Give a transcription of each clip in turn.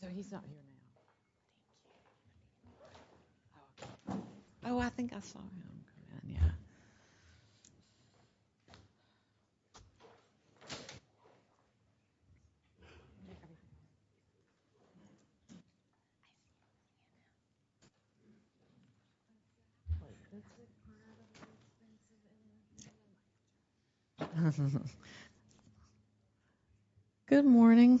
So he's not here anymore. Oh, I think I saw him. Yeah. Good morning. Good morning.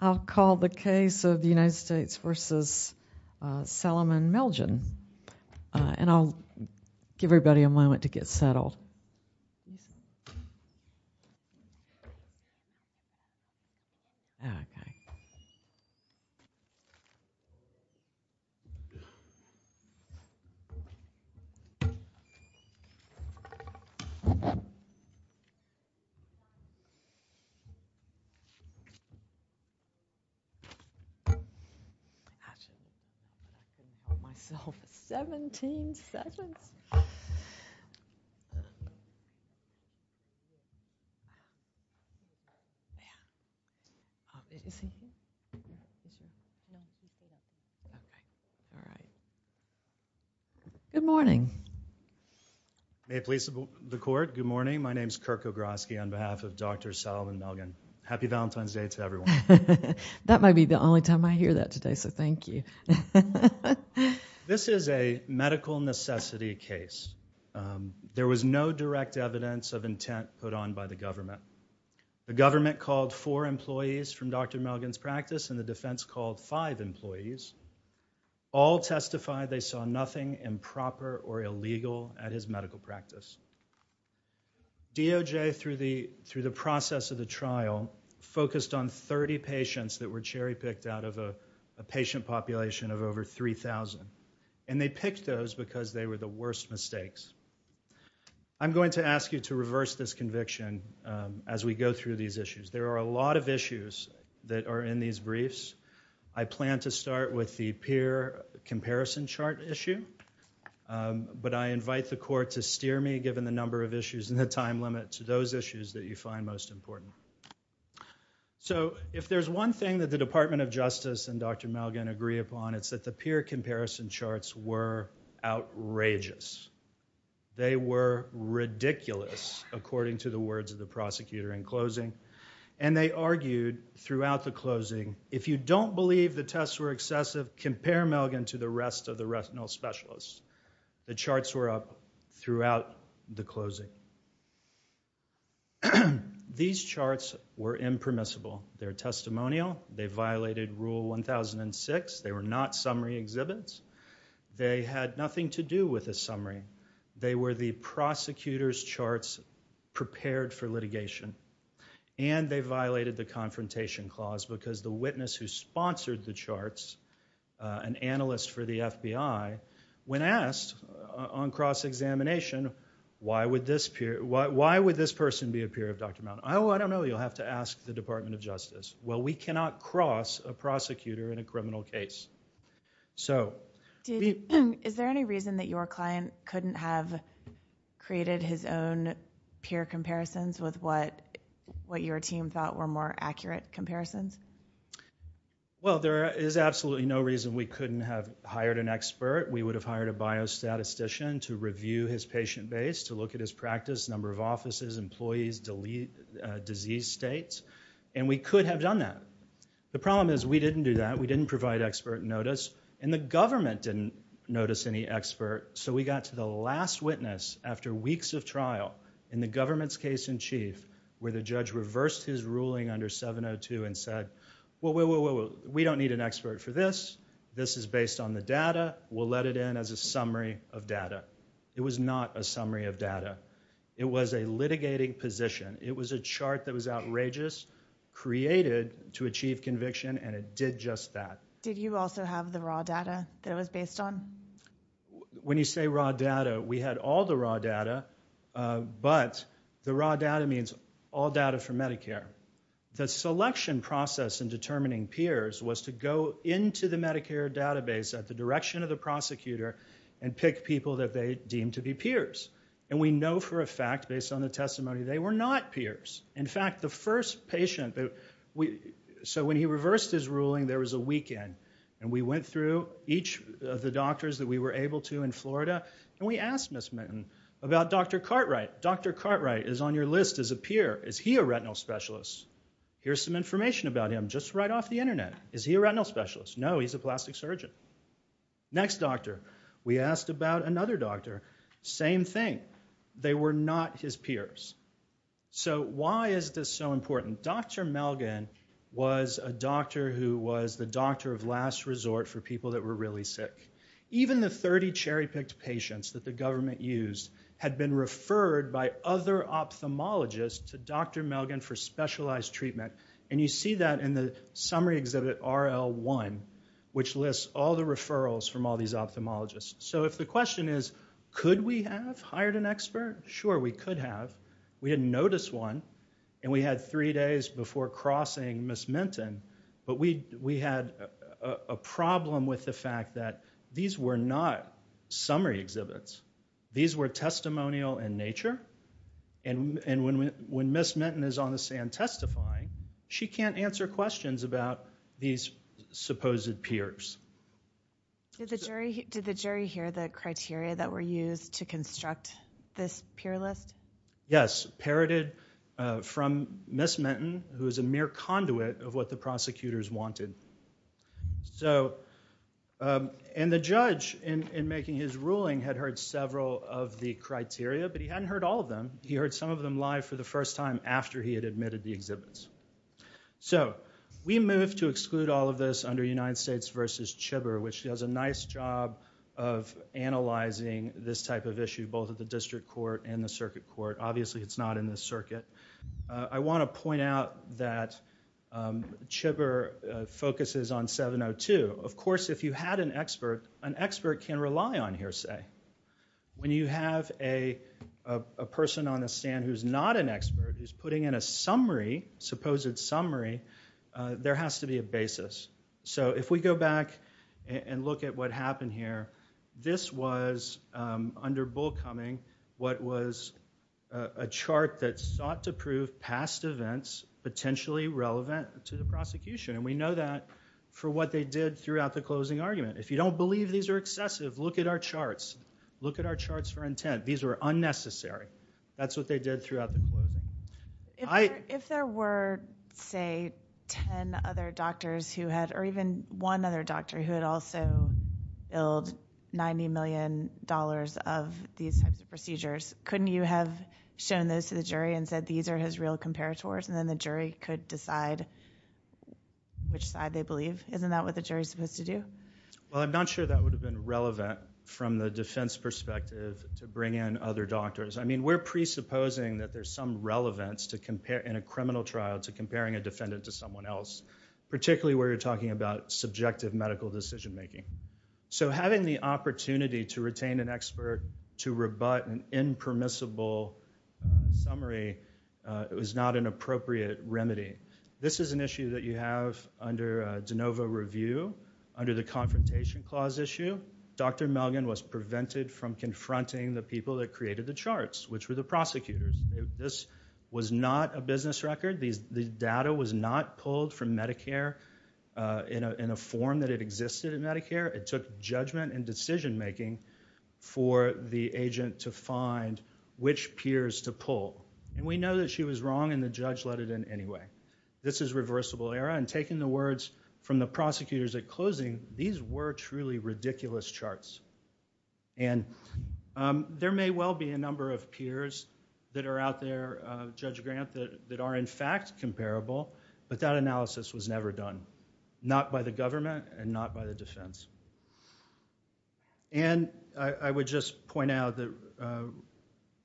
I'll call the case of the United States v. Salomon Melgen. And I'll give everybody a moment to get settled. Okay. Actually, I've been by myself for 17 seconds. Good morning. May it please the court, good morning. My name is Kirk Ogrosky on behalf of Dr. Salomon Melgen. Happy Valentine's Day to everyone. That might be the only time I hear that today, so thank you. This is a medical necessity case. There was no direct evidence of intent put on by the government. The government called four employees from Dr. Melgen's practice and the defense called five employees. All testified they saw nothing improper or illegal at his medical practice. DOJ, through the process of the trial, focused on 30 patients that were cherry-picked out of a patient population of over 3,000. And they picked those because they were the worst mistakes. I'm going to ask you to reverse this conviction as we go through these issues. There are a lot of issues that are in these briefs. I plan to start with the peer comparison chart issue. But I invite the court to steer me, So if there's one thing that the Department of Justice and Dr. Melgen agree upon, it's that the peer comparison charts were outrageous. They were ridiculous, according to the words of the prosecutor in closing. And they argued throughout the closing, if you don't believe the tests were excessive, compare Melgen to the rest of the retinal specialists. The charts were up throughout the closing. These charts were impermissible. They're testimonial. They violated Rule 1006. They were not summary exhibits. They had nothing to do with a summary. They were the prosecutor's charts prepared for litigation. And they violated the confrontation clause because the witness who sponsored the charts, an analyst for the FBI, when asked on cross-examination, why would this person be a peer of Dr. Melgen? Oh, I don't know. You'll have to ask the Department of Justice. Well, we cannot cross a prosecutor in a criminal case. Is there any reason that your client couldn't have created his own peer comparisons with what your team thought were more accurate comparisons? Well, there is absolutely no reason we couldn't have hired an expert. We would have hired a biostatistician to review his patient base, to look at his practice, number of offices, employees, disease states. And we could have done that. The problem is we didn't do that. We didn't provide expert notice. And the government didn't notice any expert. So we got to the last witness after weeks of trial in the government's case in chief, where the judge reversed his ruling under 702 and said, well, we don't need an expert for this. This is based on the data. We'll let it in as a summary of data. It was not a summary of data. It was a litigating position. It was a chart that was outrageous, created to achieve conviction, and it did just that. Did you also have the raw data that it was based on? When you say raw data, we had all the raw data, but the raw data means all data from Medicare. The selection process in determining peers was to go into the Medicare database at the direction of the prosecutor and pick people that they deemed to be peers. And we know for a fact, based on the testimony, they were not peers. In fact, the first patient... So when he reversed his ruling, there was a weekend, and we asked Ms. Minton about Dr. Cartwright. Dr. Cartwright is on your list as a peer. Is he a retinal specialist? Here's some information about him just right off the internet. Is he a retinal specialist? No, he's a plastic surgeon. Next doctor. We asked about another doctor. Same thing. They were not his peers. So why is this so important? Dr. Melgen was a doctor who was the doctor of last resort for people that were really sick. Even the 30 cherry-picked patients that the government used had been referred by other ophthalmologists to Dr. Melgen for specialized treatment. And you see that in the summary exhibit RL1, which lists all the referrals from all these ophthalmologists. So if the question is, could we have hired an expert? Sure, we could have. We didn't notice one. And we had three days before crossing Ms. Minton. But we had a problem with the fact that these were not summary exhibits. These were testimonial in nature. And when Ms. Minton is on the stand testifying, she can't answer questions about these supposed peers. Did the jury hear the criteria that were used to construct this peer list? Yes, parroted from Ms. Minton, who is a mere conduit of what the prosecutors wanted. And the judge, in making his ruling, had heard several of the criteria. But he hadn't heard all of them. He heard some of them live for the first time after he had admitted the exhibits. So we moved to exclude all of this under United States v. Chibber, which does a nice job of analyzing this type of issue, both at the district court and the circuit court. Obviously, it's not in the circuit. I want to point out that Chibber focuses on 702. Of course, if you had an expert, an expert can rely on hearsay. When you have a person on the stand who's not an expert, who's putting in a summary, supposed summary, there has to be a basis. So if we go back and look at what happened here, this was, under Bullcoming, what was a chart that sought to prove past events potentially relevant to the prosecution. And we know that for what they did throughout the closing argument. If you don't believe these are excessive, look at our charts. Look at our charts for intent. These were unnecessary. That's what they did throughout the closing. If there were, say, 10 other doctors who had, or even one other doctor who had also billed $90 million of these types of procedures, couldn't you have shown those to the jury and said these are his real comparators and then the jury could decide which side they believe? Isn't that what the jury's supposed to do? Well, I'm not sure that would have been relevant from the defense perspective to bring in other doctors. I mean, we're presupposing that there's some relevance in a criminal trial to comparing a defendant to someone else, particularly where you're talking about subjective medical decision-making. So having the opportunity to retain an expert to rebut an impermissible summary is not an appropriate remedy. This is an issue that you have under de novo review, under the Confrontation Clause issue. Dr. Melgen was prevented from confronting the people that created the charts, which were the prosecutors. This was not a business record. The data was not pulled from Medicare in a form that it existed in Medicare. It took judgment and decision-making for the agent to find which peers to pull. And we know that she was wrong and the judge let it in anyway. This is reversible error, and taking the words from the prosecutors at closing, these were truly ridiculous charts. And there may well be a number of peers that are out there, Judge Grant, that are in fact comparable, but that analysis was never done, not by the government and not by the defense. And I would just point out that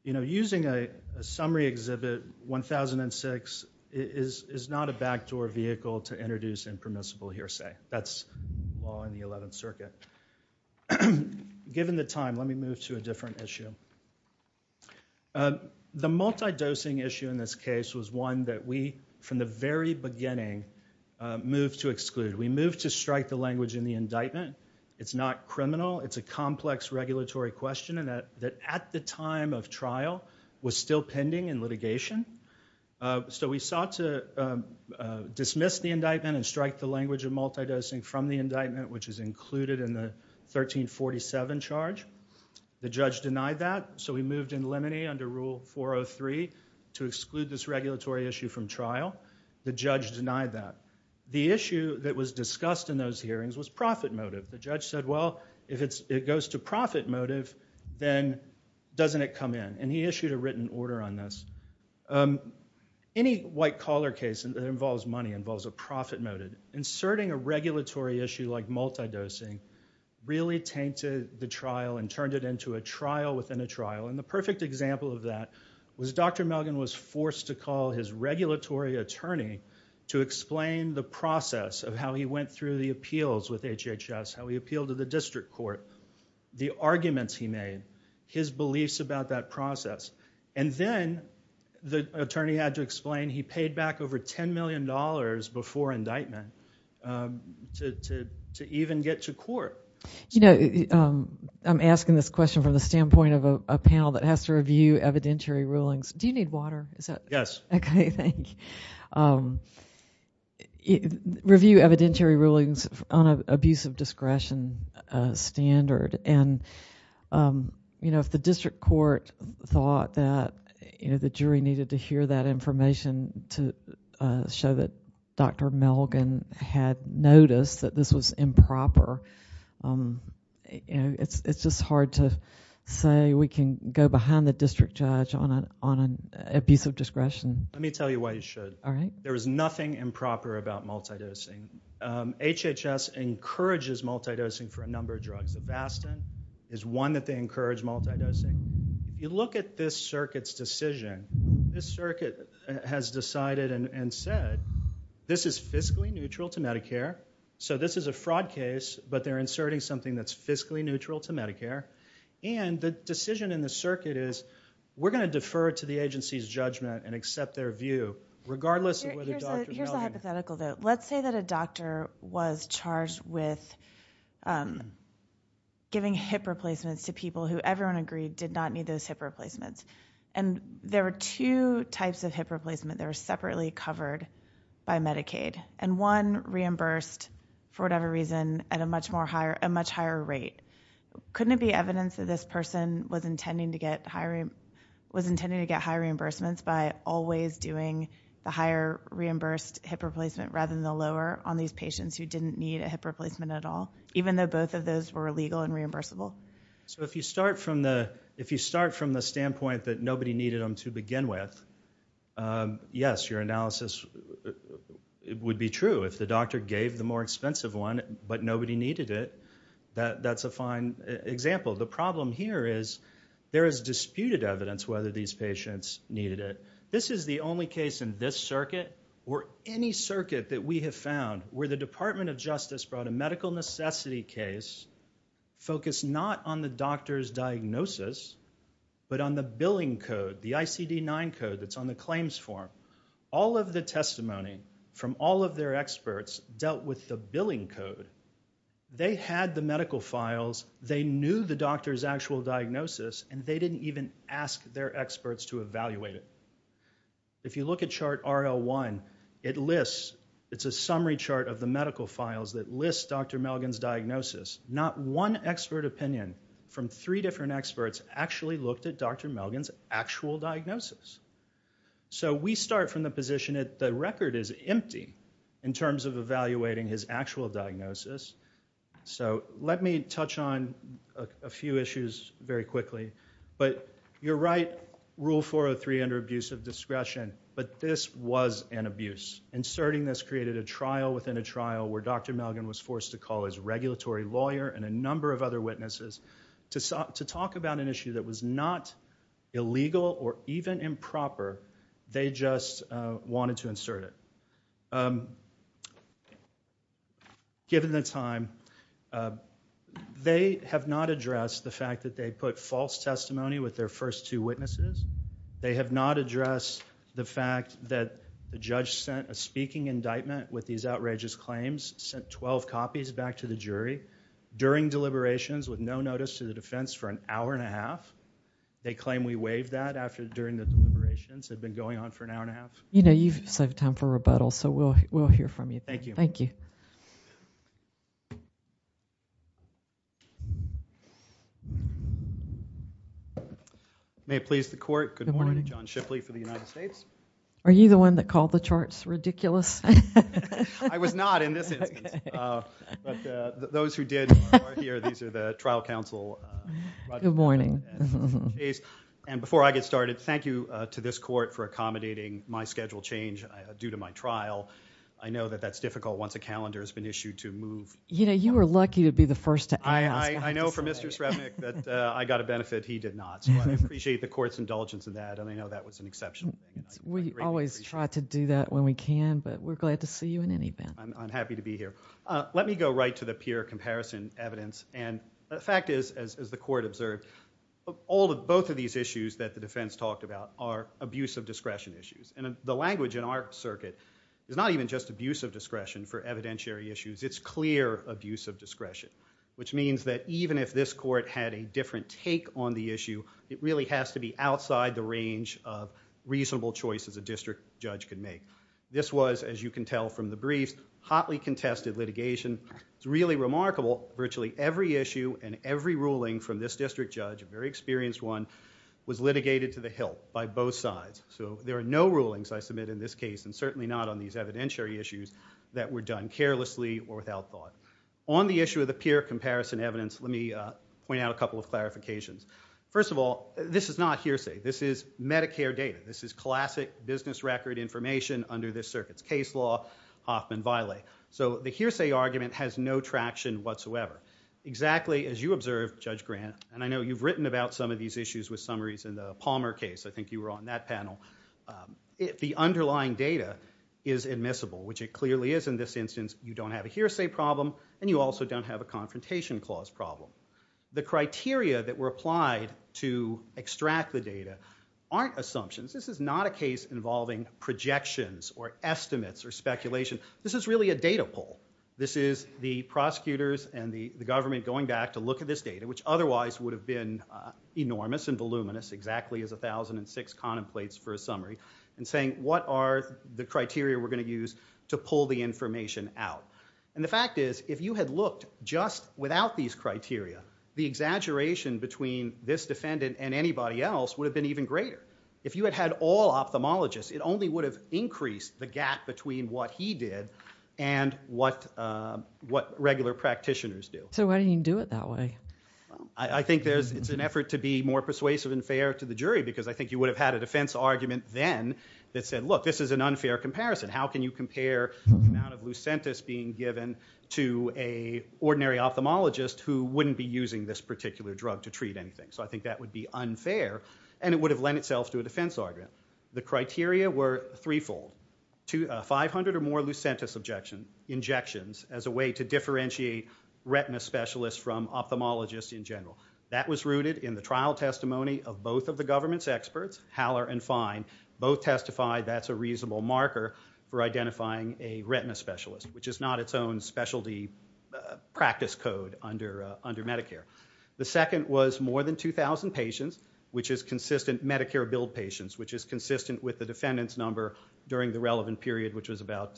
using a summary exhibit, 1006, is not a backdoor vehicle to introduce impermissible hearsay. That's law in the 11th Circuit. Given the time, let me move to a different issue. The multi-dosing issue in this case was one that we, from the very beginning, moved to exclude. We moved to strike the language in the indictment. It's not criminal. It's a complex regulatory question that at the time of trial was still pending in litigation. So we sought to dismiss the indictment and strike the language of multi-dosing from the indictment, which is included in the 1347 charge. The judge denied that, so we moved in limine under Rule 403 to exclude this regulatory issue from trial. The judge denied that. The issue that was discussed in those hearings was profit motive. The judge said, well, if it goes to profit motive, then doesn't it come in? And he issued a written order on this. Any white-collar case that involves money involves a profit motive. Inserting a regulatory issue like multi-dosing really tainted the trial and turned it into a trial within a trial. And the perfect example of that was Dr. Melgen was forced to call his regulatory attorney to explain the process of how he went through the appeals with HHS, how he appealed to the district court, the arguments he made, his beliefs about that process. And then the attorney had to explain he paid back over $10 million before indictment to even get to court. You know, I'm asking this question from the standpoint of a panel that has to review evidentiary rulings. Do you need water? Yes. Okay, thank you. Review evidentiary rulings on an abuse of discretion standard. And, you know, if the district court thought that the jury needed to hear that information to show that Dr. Melgen had noticed that this was improper, it's just hard to say we can go behind the district judge on an abuse of discretion. Let me tell you why you should. All right. There is nothing improper about multidosing. HHS encourages multidosing for a number of drugs. Avastin is one that they encourage multidosing. You look at this circuit's decision. This circuit has decided and said this is fiscally neutral to Medicare. So this is a fraud case, but they're inserting something that's fiscally neutral to Medicare. And the decision in the circuit is we're going to defer to the agency's judgment and accept their view, regardless of whether Dr. Melgen... Here's a hypothetical, though. Let's say that a doctor was charged with giving hip replacements to people who everyone agreed did not need those hip replacements. And there were two types of hip replacement that were separately covered by Medicaid. And one reimbursed for whatever reason at a much higher rate. Couldn't it be evidence that this person was intending to get high reimbursements by always doing the higher reimbursed hip replacement rather than the lower on these patients who didn't need a hip replacement at all, even though both of those were legal and reimbursable? So if you start from the standpoint that nobody needed them to begin with, yes, your analysis would be true. If the doctor gave the more expensive one, but nobody needed it, that's a fine example. The problem here is there is disputed evidence whether these patients needed it. This is the only case in this circuit or any circuit that we have found where the Department of Justice brought a medical necessity case focused not on the doctor's diagnosis, but on the billing code, the ICD-9 code that's on the claims form. All of the testimony from all of their experts dealt with the billing code. They had the medical files. They knew the doctor's actual diagnosis, and they didn't even ask their experts to evaluate it. If you look at chart RL1, it lists, it's a summary chart of the medical files that lists Dr. Melgen's diagnosis. Not one expert opinion from three different experts actually looked at Dr. Melgen's actual diagnosis. So we start from the position that the record is empty in terms of evaluating his actual diagnosis. So let me touch on a few issues very quickly. But you're right, Rule 403 under abusive discretion, but this was an abuse. Inserting this created a trial within a trial where Dr. Melgen was forced to call his regulatory lawyer and a number of other witnesses to talk about an issue that was not illegal or even improper. They just wanted to insert it. Given the time, they have not addressed the fact that they put false testimony with their first two witnesses. They have not addressed the fact that the judge sent a speaking indictment with these outrageous claims, sent 12 copies back to the jury during deliberations with no notice to the defense for an hour and a half. They claim we waived that during the deliberations that had been going on for an hour and a half. You know, you've saved time for rebuttal, so we'll hear from you. Thank you. Thank you. May it please the court, good morning. John Shipley for the United States. Are you the one that called the charts ridiculous? I was not in this instance. But those who did are here. These are the trial counsel. Good morning. And before I get started, thank you to this court for accommodating my schedule change due to my trial. I know that that's difficult once a calendar has been issued to move. You know, you were lucky to be the first to ask. I know from Mr. Srebnick that I got a benefit, he did not. So I appreciate the court's indulgence in that, and I know that was an exception. We always try to do that when we can, but we're glad to see you in any event. I'm happy to be here. Let me go right to the peer comparison evidence. And the fact is, as the court observed, both of these issues that the defense talked about are abuse of discretion issues. And the language in our circuit is not even just abuse of discretion for evidentiary issues, it's clear abuse of discretion, which means that even if this court had a different take on the issue, it really has to be outside the range of reasonable choices a district judge can make. This was, as you can tell from the briefs, hotly contested litigation. It's really remarkable, virtually every issue and every ruling from this district judge, a very experienced one, was litigated to the hilt by both sides. So there are no rulings I submit in this case, and certainly not on these evidentiary issues, that were done carelessly or without thought. On the issue of the peer comparison evidence, let me point out a couple of clarifications. First of all, this is not hearsay. This is Medicare data. This is classic business record information under this circuit's case law, Hoffman-Villay. So the hearsay argument has no traction whatsoever. Exactly as you observed, Judge Grant, and I know you've written about some of these issues with summaries in the Palmer case. I think you were on that panel. The underlying data is admissible, which it clearly is in this instance. You don't have a hearsay problem, and you also don't have a confrontation clause problem. The criteria that were applied to extract the data aren't assumptions. This is not a case involving projections or estimates or speculation. This is really a data poll. This is the prosecutors and the government going back to look at this data, which otherwise would have been enormous and voluminous, exactly as 1006 contemplates for a summary, and saying, what are the criteria we're going to use to pull the information out? And the fact is, if you had looked just without these criteria, the exaggeration between this defendant and anybody else would have been even greater. If you had had all ophthalmologists, it only would have increased the gap between what he did and what regular practitioners do. So why didn't he do it that way? I think it's an effort to be more persuasive and fair to the jury, because I think you would have had a defense argument then that said, look, this is an unfair comparison. How can you compare the amount of Lucentis being given to an ordinary ophthalmologist who wouldn't be using this particular drug to treat anything? So I think that would be unfair, and it would have lent itself to a defense argument. The criteria were threefold. 500 or more Lucentis injections as a way to differentiate retina specialists from ophthalmologists in general. That was rooted in the trial testimony of both of the government's experts, Haller and Fine. Both testified that's a reasonable marker for identifying a retina specialist, which is not its own specialty practice code under Medicare. The second was more than 2,000 patients, which is consistent Medicare billed patients, which is consistent with the defendant's number during the relevant period, which was about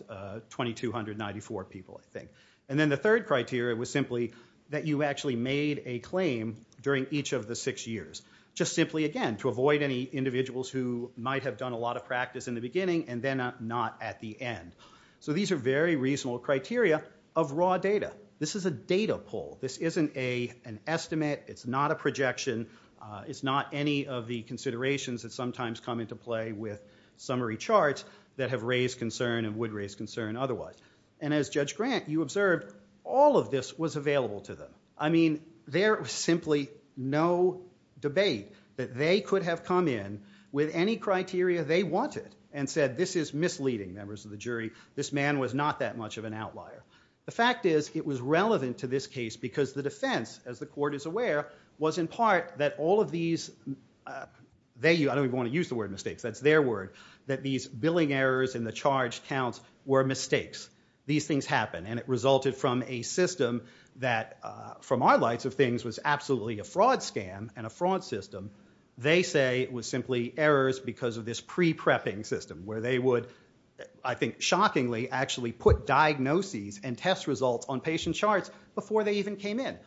2,294 people, I think. And then the third criteria was simply that you actually made a claim during each of the six years. Just simply, again, to avoid any individuals who might have done a lot of practice in the beginning and then not at the end. So these are very reasonable criteria of raw data. This is a data poll. This isn't an estimate. It's not a projection. It's not any of the considerations that sometimes come into play with summary charts that have raised concern and would raise concern otherwise. And as Judge Grant, you observed all of this was available to them. I mean, there was simply no debate that they could have come in with any criteria they wanted and said, this is misleading, members of the jury. This man was not that much of an outlier. The fact is, it was relevant to this case because the defense, as the court is aware, was in part that all of these... I don't even want to use the word mistakes. That's their word, that these billing errors and the charge counts were mistakes. These things happen, and it resulted from a system that, from our lights of things, was absolutely a fraud scam and a fraud system. They say it was simply errors because of this pre-prepping system where they would, I think shockingly, actually put diagnoses and test results on patient charts before they even came in.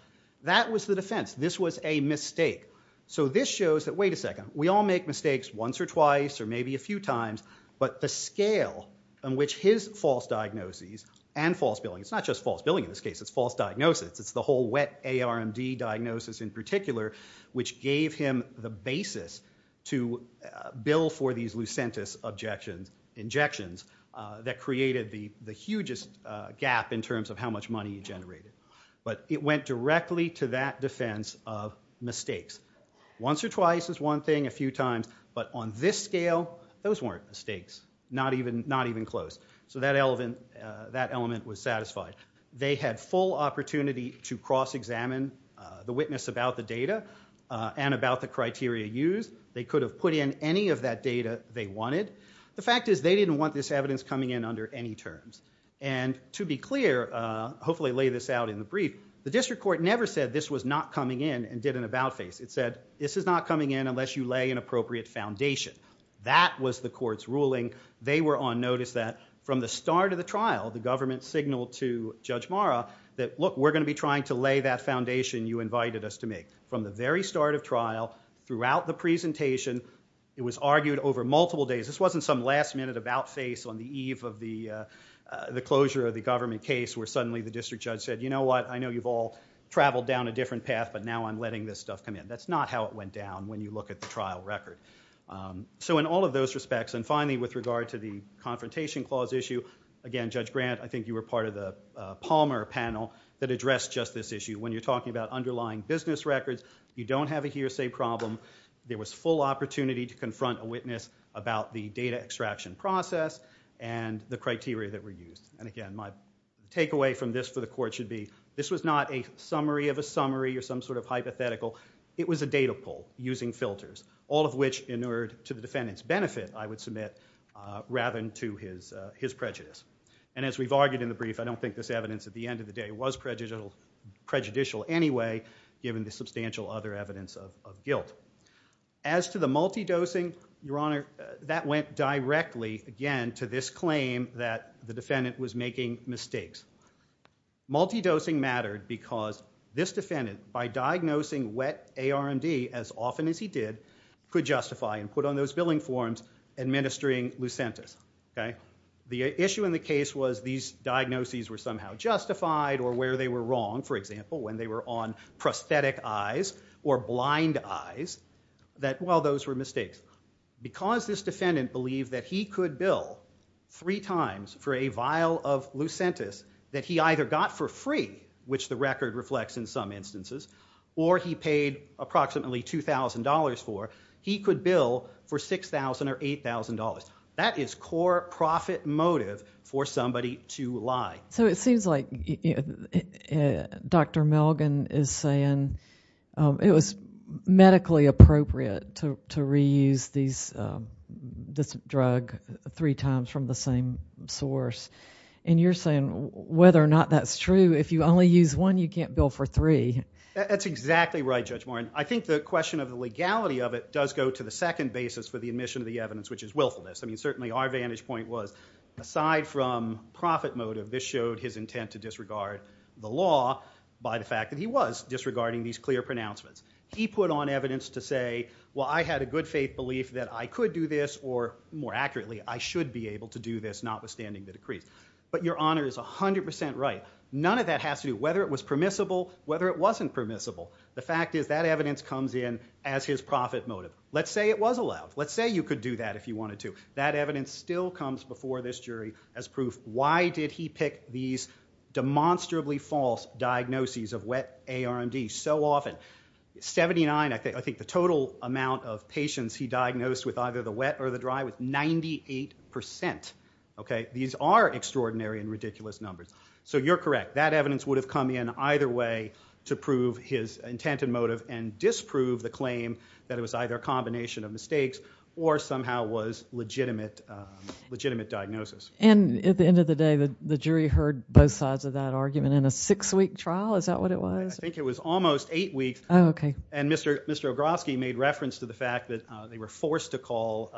That was the defense. This was a mistake. So this shows that, wait a second, we all make mistakes once or twice or maybe a few times, but the scale on which his false diagnoses and false billing... It's not just false billing in this case. It's false diagnosis. It's the whole wet ARMD diagnosis in particular which gave him the basis to bill for these Lucentis injections that created the hugest gap in terms of how much money he generated. But it went directly to that defense of mistakes. Once or twice is one thing, a few times. But on this scale, those weren't mistakes. Not even close. So that element was satisfied. They had full opportunity to cross-examine the witness about the data and about the criteria used. They could have put in any of that data they wanted. The fact is, they didn't want this evidence coming in under any terms. And to be clear, hopefully lay this out in the brief, the district court never said this was not coming in and did an about-face. It said, this is not coming in unless you lay an appropriate foundation. That was the court's ruling. They were on notice that from the start of the trial, the government signaled to Judge Marra that, look, we're going to be trying to lay that foundation you invited us to make. From the very start of trial, throughout the presentation, it was argued over multiple days. This wasn't some last-minute about-face on the eve of the closure of the government case where suddenly the district judge said, you know what, I know you've all traveled down a different path, but now I'm letting this stuff come in. That's not how it went down when you look at the trial record. So in all of those respects, and finally with regard to the Confrontation Clause issue, again, Judge Grant, I think you were part of the Palmer panel that addressed just this issue. When you're talking about underlying business records, you don't have a hearsay problem. There was full opportunity to confront a witness about the data extraction process and the criteria that were used. And again, my takeaway from this for the Court should be this was not a summary of a summary or some sort of hypothetical. It was a data pull using filters, all of which inured to the defendant's benefit, I would submit, rather than to his prejudice. And as we've argued in the brief, I don't think this evidence at the end of the day was prejudicial anyway, given the substantial other evidence of guilt. As to the multi-dosing, Your Honor, that went directly, again, to this claim that the defendant was making mistakes. Multi-dosing mattered because this defendant, by diagnosing wet ARMD as often as he did, could justify and put on those billing forms administering Lucentis. The issue in the case was these diagnoses were somehow justified or where they were wrong, for example, when they were on prosthetic eyes or blind eyes, that, well, those were mistakes. Because this defendant believed that he could bill three times for a vial of Lucentis that he either got for free, which the record reflects in some instances, or he paid approximately $2,000 for, he could bill for $6,000 or $8,000. That is core profit motive for somebody to lie. So it seems like Dr. Melgen is saying it was medically appropriate to reuse this drug three times from the same source. And you're saying whether or not that's true, if you only use one, you can't bill for three. That's exactly right, Judge Warren. I think the question of the legality of it does go to the second basis for the admission of the evidence, which is willfulness. I mean, certainly our vantage point was aside from profit motive, this showed his intent to disregard the law by the fact that he was disregarding these clear pronouncements. He put on evidence to say, well, I had a good faith belief that I could do this, or more accurately, I should be able to do this, notwithstanding the decrees. But Your Honor is 100% right. None of that has to do, whether it was permissible, whether it wasn't permissible. The fact is that evidence comes in as his profit motive. Let's say it was allowed. Let's say you could do that if you wanted to. That evidence still comes before this jury as proof. Why did he pick these demonstrably false diagnoses of wet ARMD so often? 79, I think, the total amount of patients he diagnosed with either the wet or the dry was 98%. Okay? These are extraordinary and ridiculous numbers. So you're correct. That evidence would have come in either way to prove his intent and motive and disprove the claim that it was either a combination of mistakes or somehow was legitimate diagnosis. And at the end of the day, the jury heard both sides of that argument in a six-week trial? Is that what it was? I think it was almost eight weeks. Oh, okay. And Mr. Ogrosky made reference to the fact that they were forced to call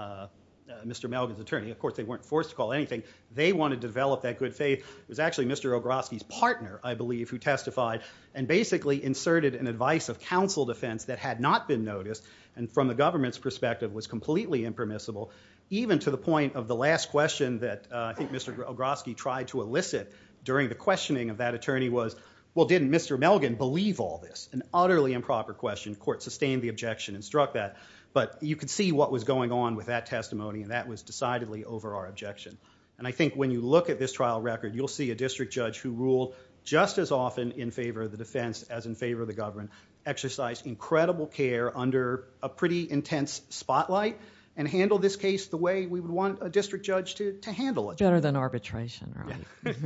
Mr. Melgen's attorney. Of course, they weren't forced to call anything. They wanted to develop that good faith. It was actually Mr. Ogrosky's partner, I believe, who testified and basically inserted an advice of counsel defense that had not been noticed and from the government's perspective was completely impermissible, even to the point of the last question that I think Mr. Ogrosky tried to elicit during the questioning of that attorney was, well, didn't Mr. Melgen believe all this? An utterly improper question. Court sustained the objection and struck that. But you could see what was going on with that testimony and that was decidedly over our objection. And I think when you look at this trial record, you'll see a district judge who ruled just as often in favor of the defense as in favor of the government, exercised incredible care under a pretty intense spotlight and handled this case the way we would want a district judge to handle it. Better than arbitration, right?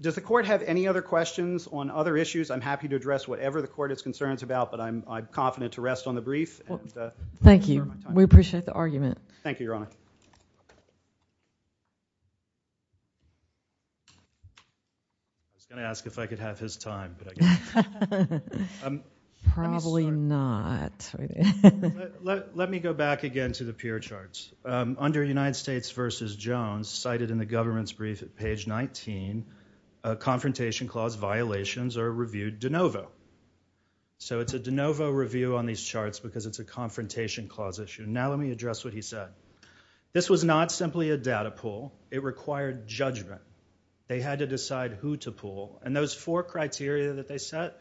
Does the court have any other questions on other issues? I'm happy to address whatever the court is concerned about, but I'm confident to rest on the brief. Thank you. We appreciate the argument. Thank you, Your Honor. I was gonna ask if I could have his time. Probably not. Let me go back again to the peer charts. Under United States v. Jones, cited in the government's brief at page 19, confrontation clause violations are reviewed de novo. So it's a de novo review on these charts because it's a confrontation clause issue. Now let me address what he said. This was not simply a data pool. It required judgment. They had to decide who to pool. And those four criteria that they set,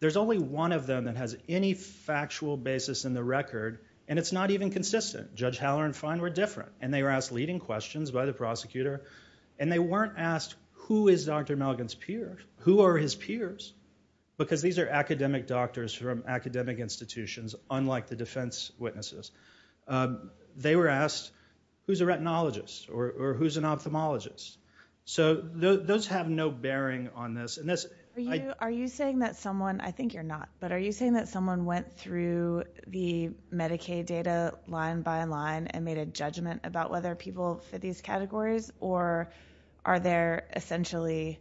there's only one of them that has any factual basis in the record and it's not even consistent. Judge Haller and Fine were different and they were asked leading questions by the prosecutor and they weren't asked, who is Dr. Melgan's peer? Who are his peers? Because these are academic doctors from academic institutions, unlike the defense witnesses. They were asked, who's a retinologist? Or who's an ophthalmologist? So those have no bearing on this. Are you saying that someone, I think you're not, but are you saying that someone went through the Medicaid data line by line and made a judgment about whether people fit these categories or are there essentially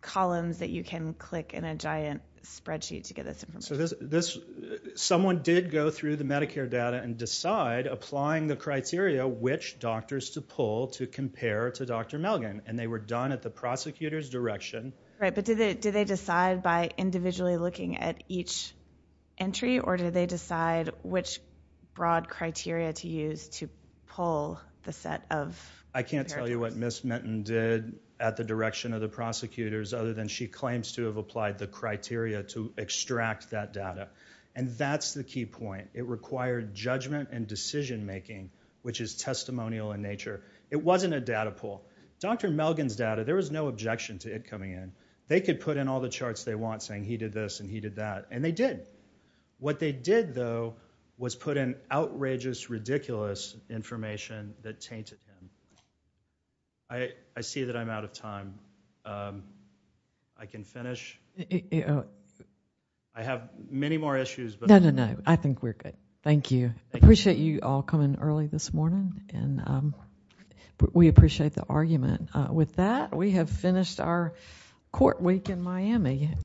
columns that you can click in a giant spreadsheet to get this information? Someone did go through the Medicare data and decide, applying the criteria, which doctors to pool to compare to Dr. Melgan. And they were done at the prosecutor's direction. Right, but did they decide by individually looking at each entry or did they decide which broad criteria to use to pull the set of characteristics? I can't tell you what Ms. Minton did at the direction of the prosecutors other than she claims to have applied the criteria to extract that data. And that's the key point. It required judgment and decision making, which is testimonial in nature. It wasn't a data pool. Dr. Melgan's data, there was no objection to it coming in. They could put in all the charts they want saying he did this and he did that. And they did. What they did, though, was put in outrageous, ridiculous information that tainted him. I see that I'm out of time. I can finish. I have many more issues. No, no, no, I think we're good. Thank you. Appreciate you all coming early this morning. And we appreciate the argument. With that, we have finished our court week in Miami.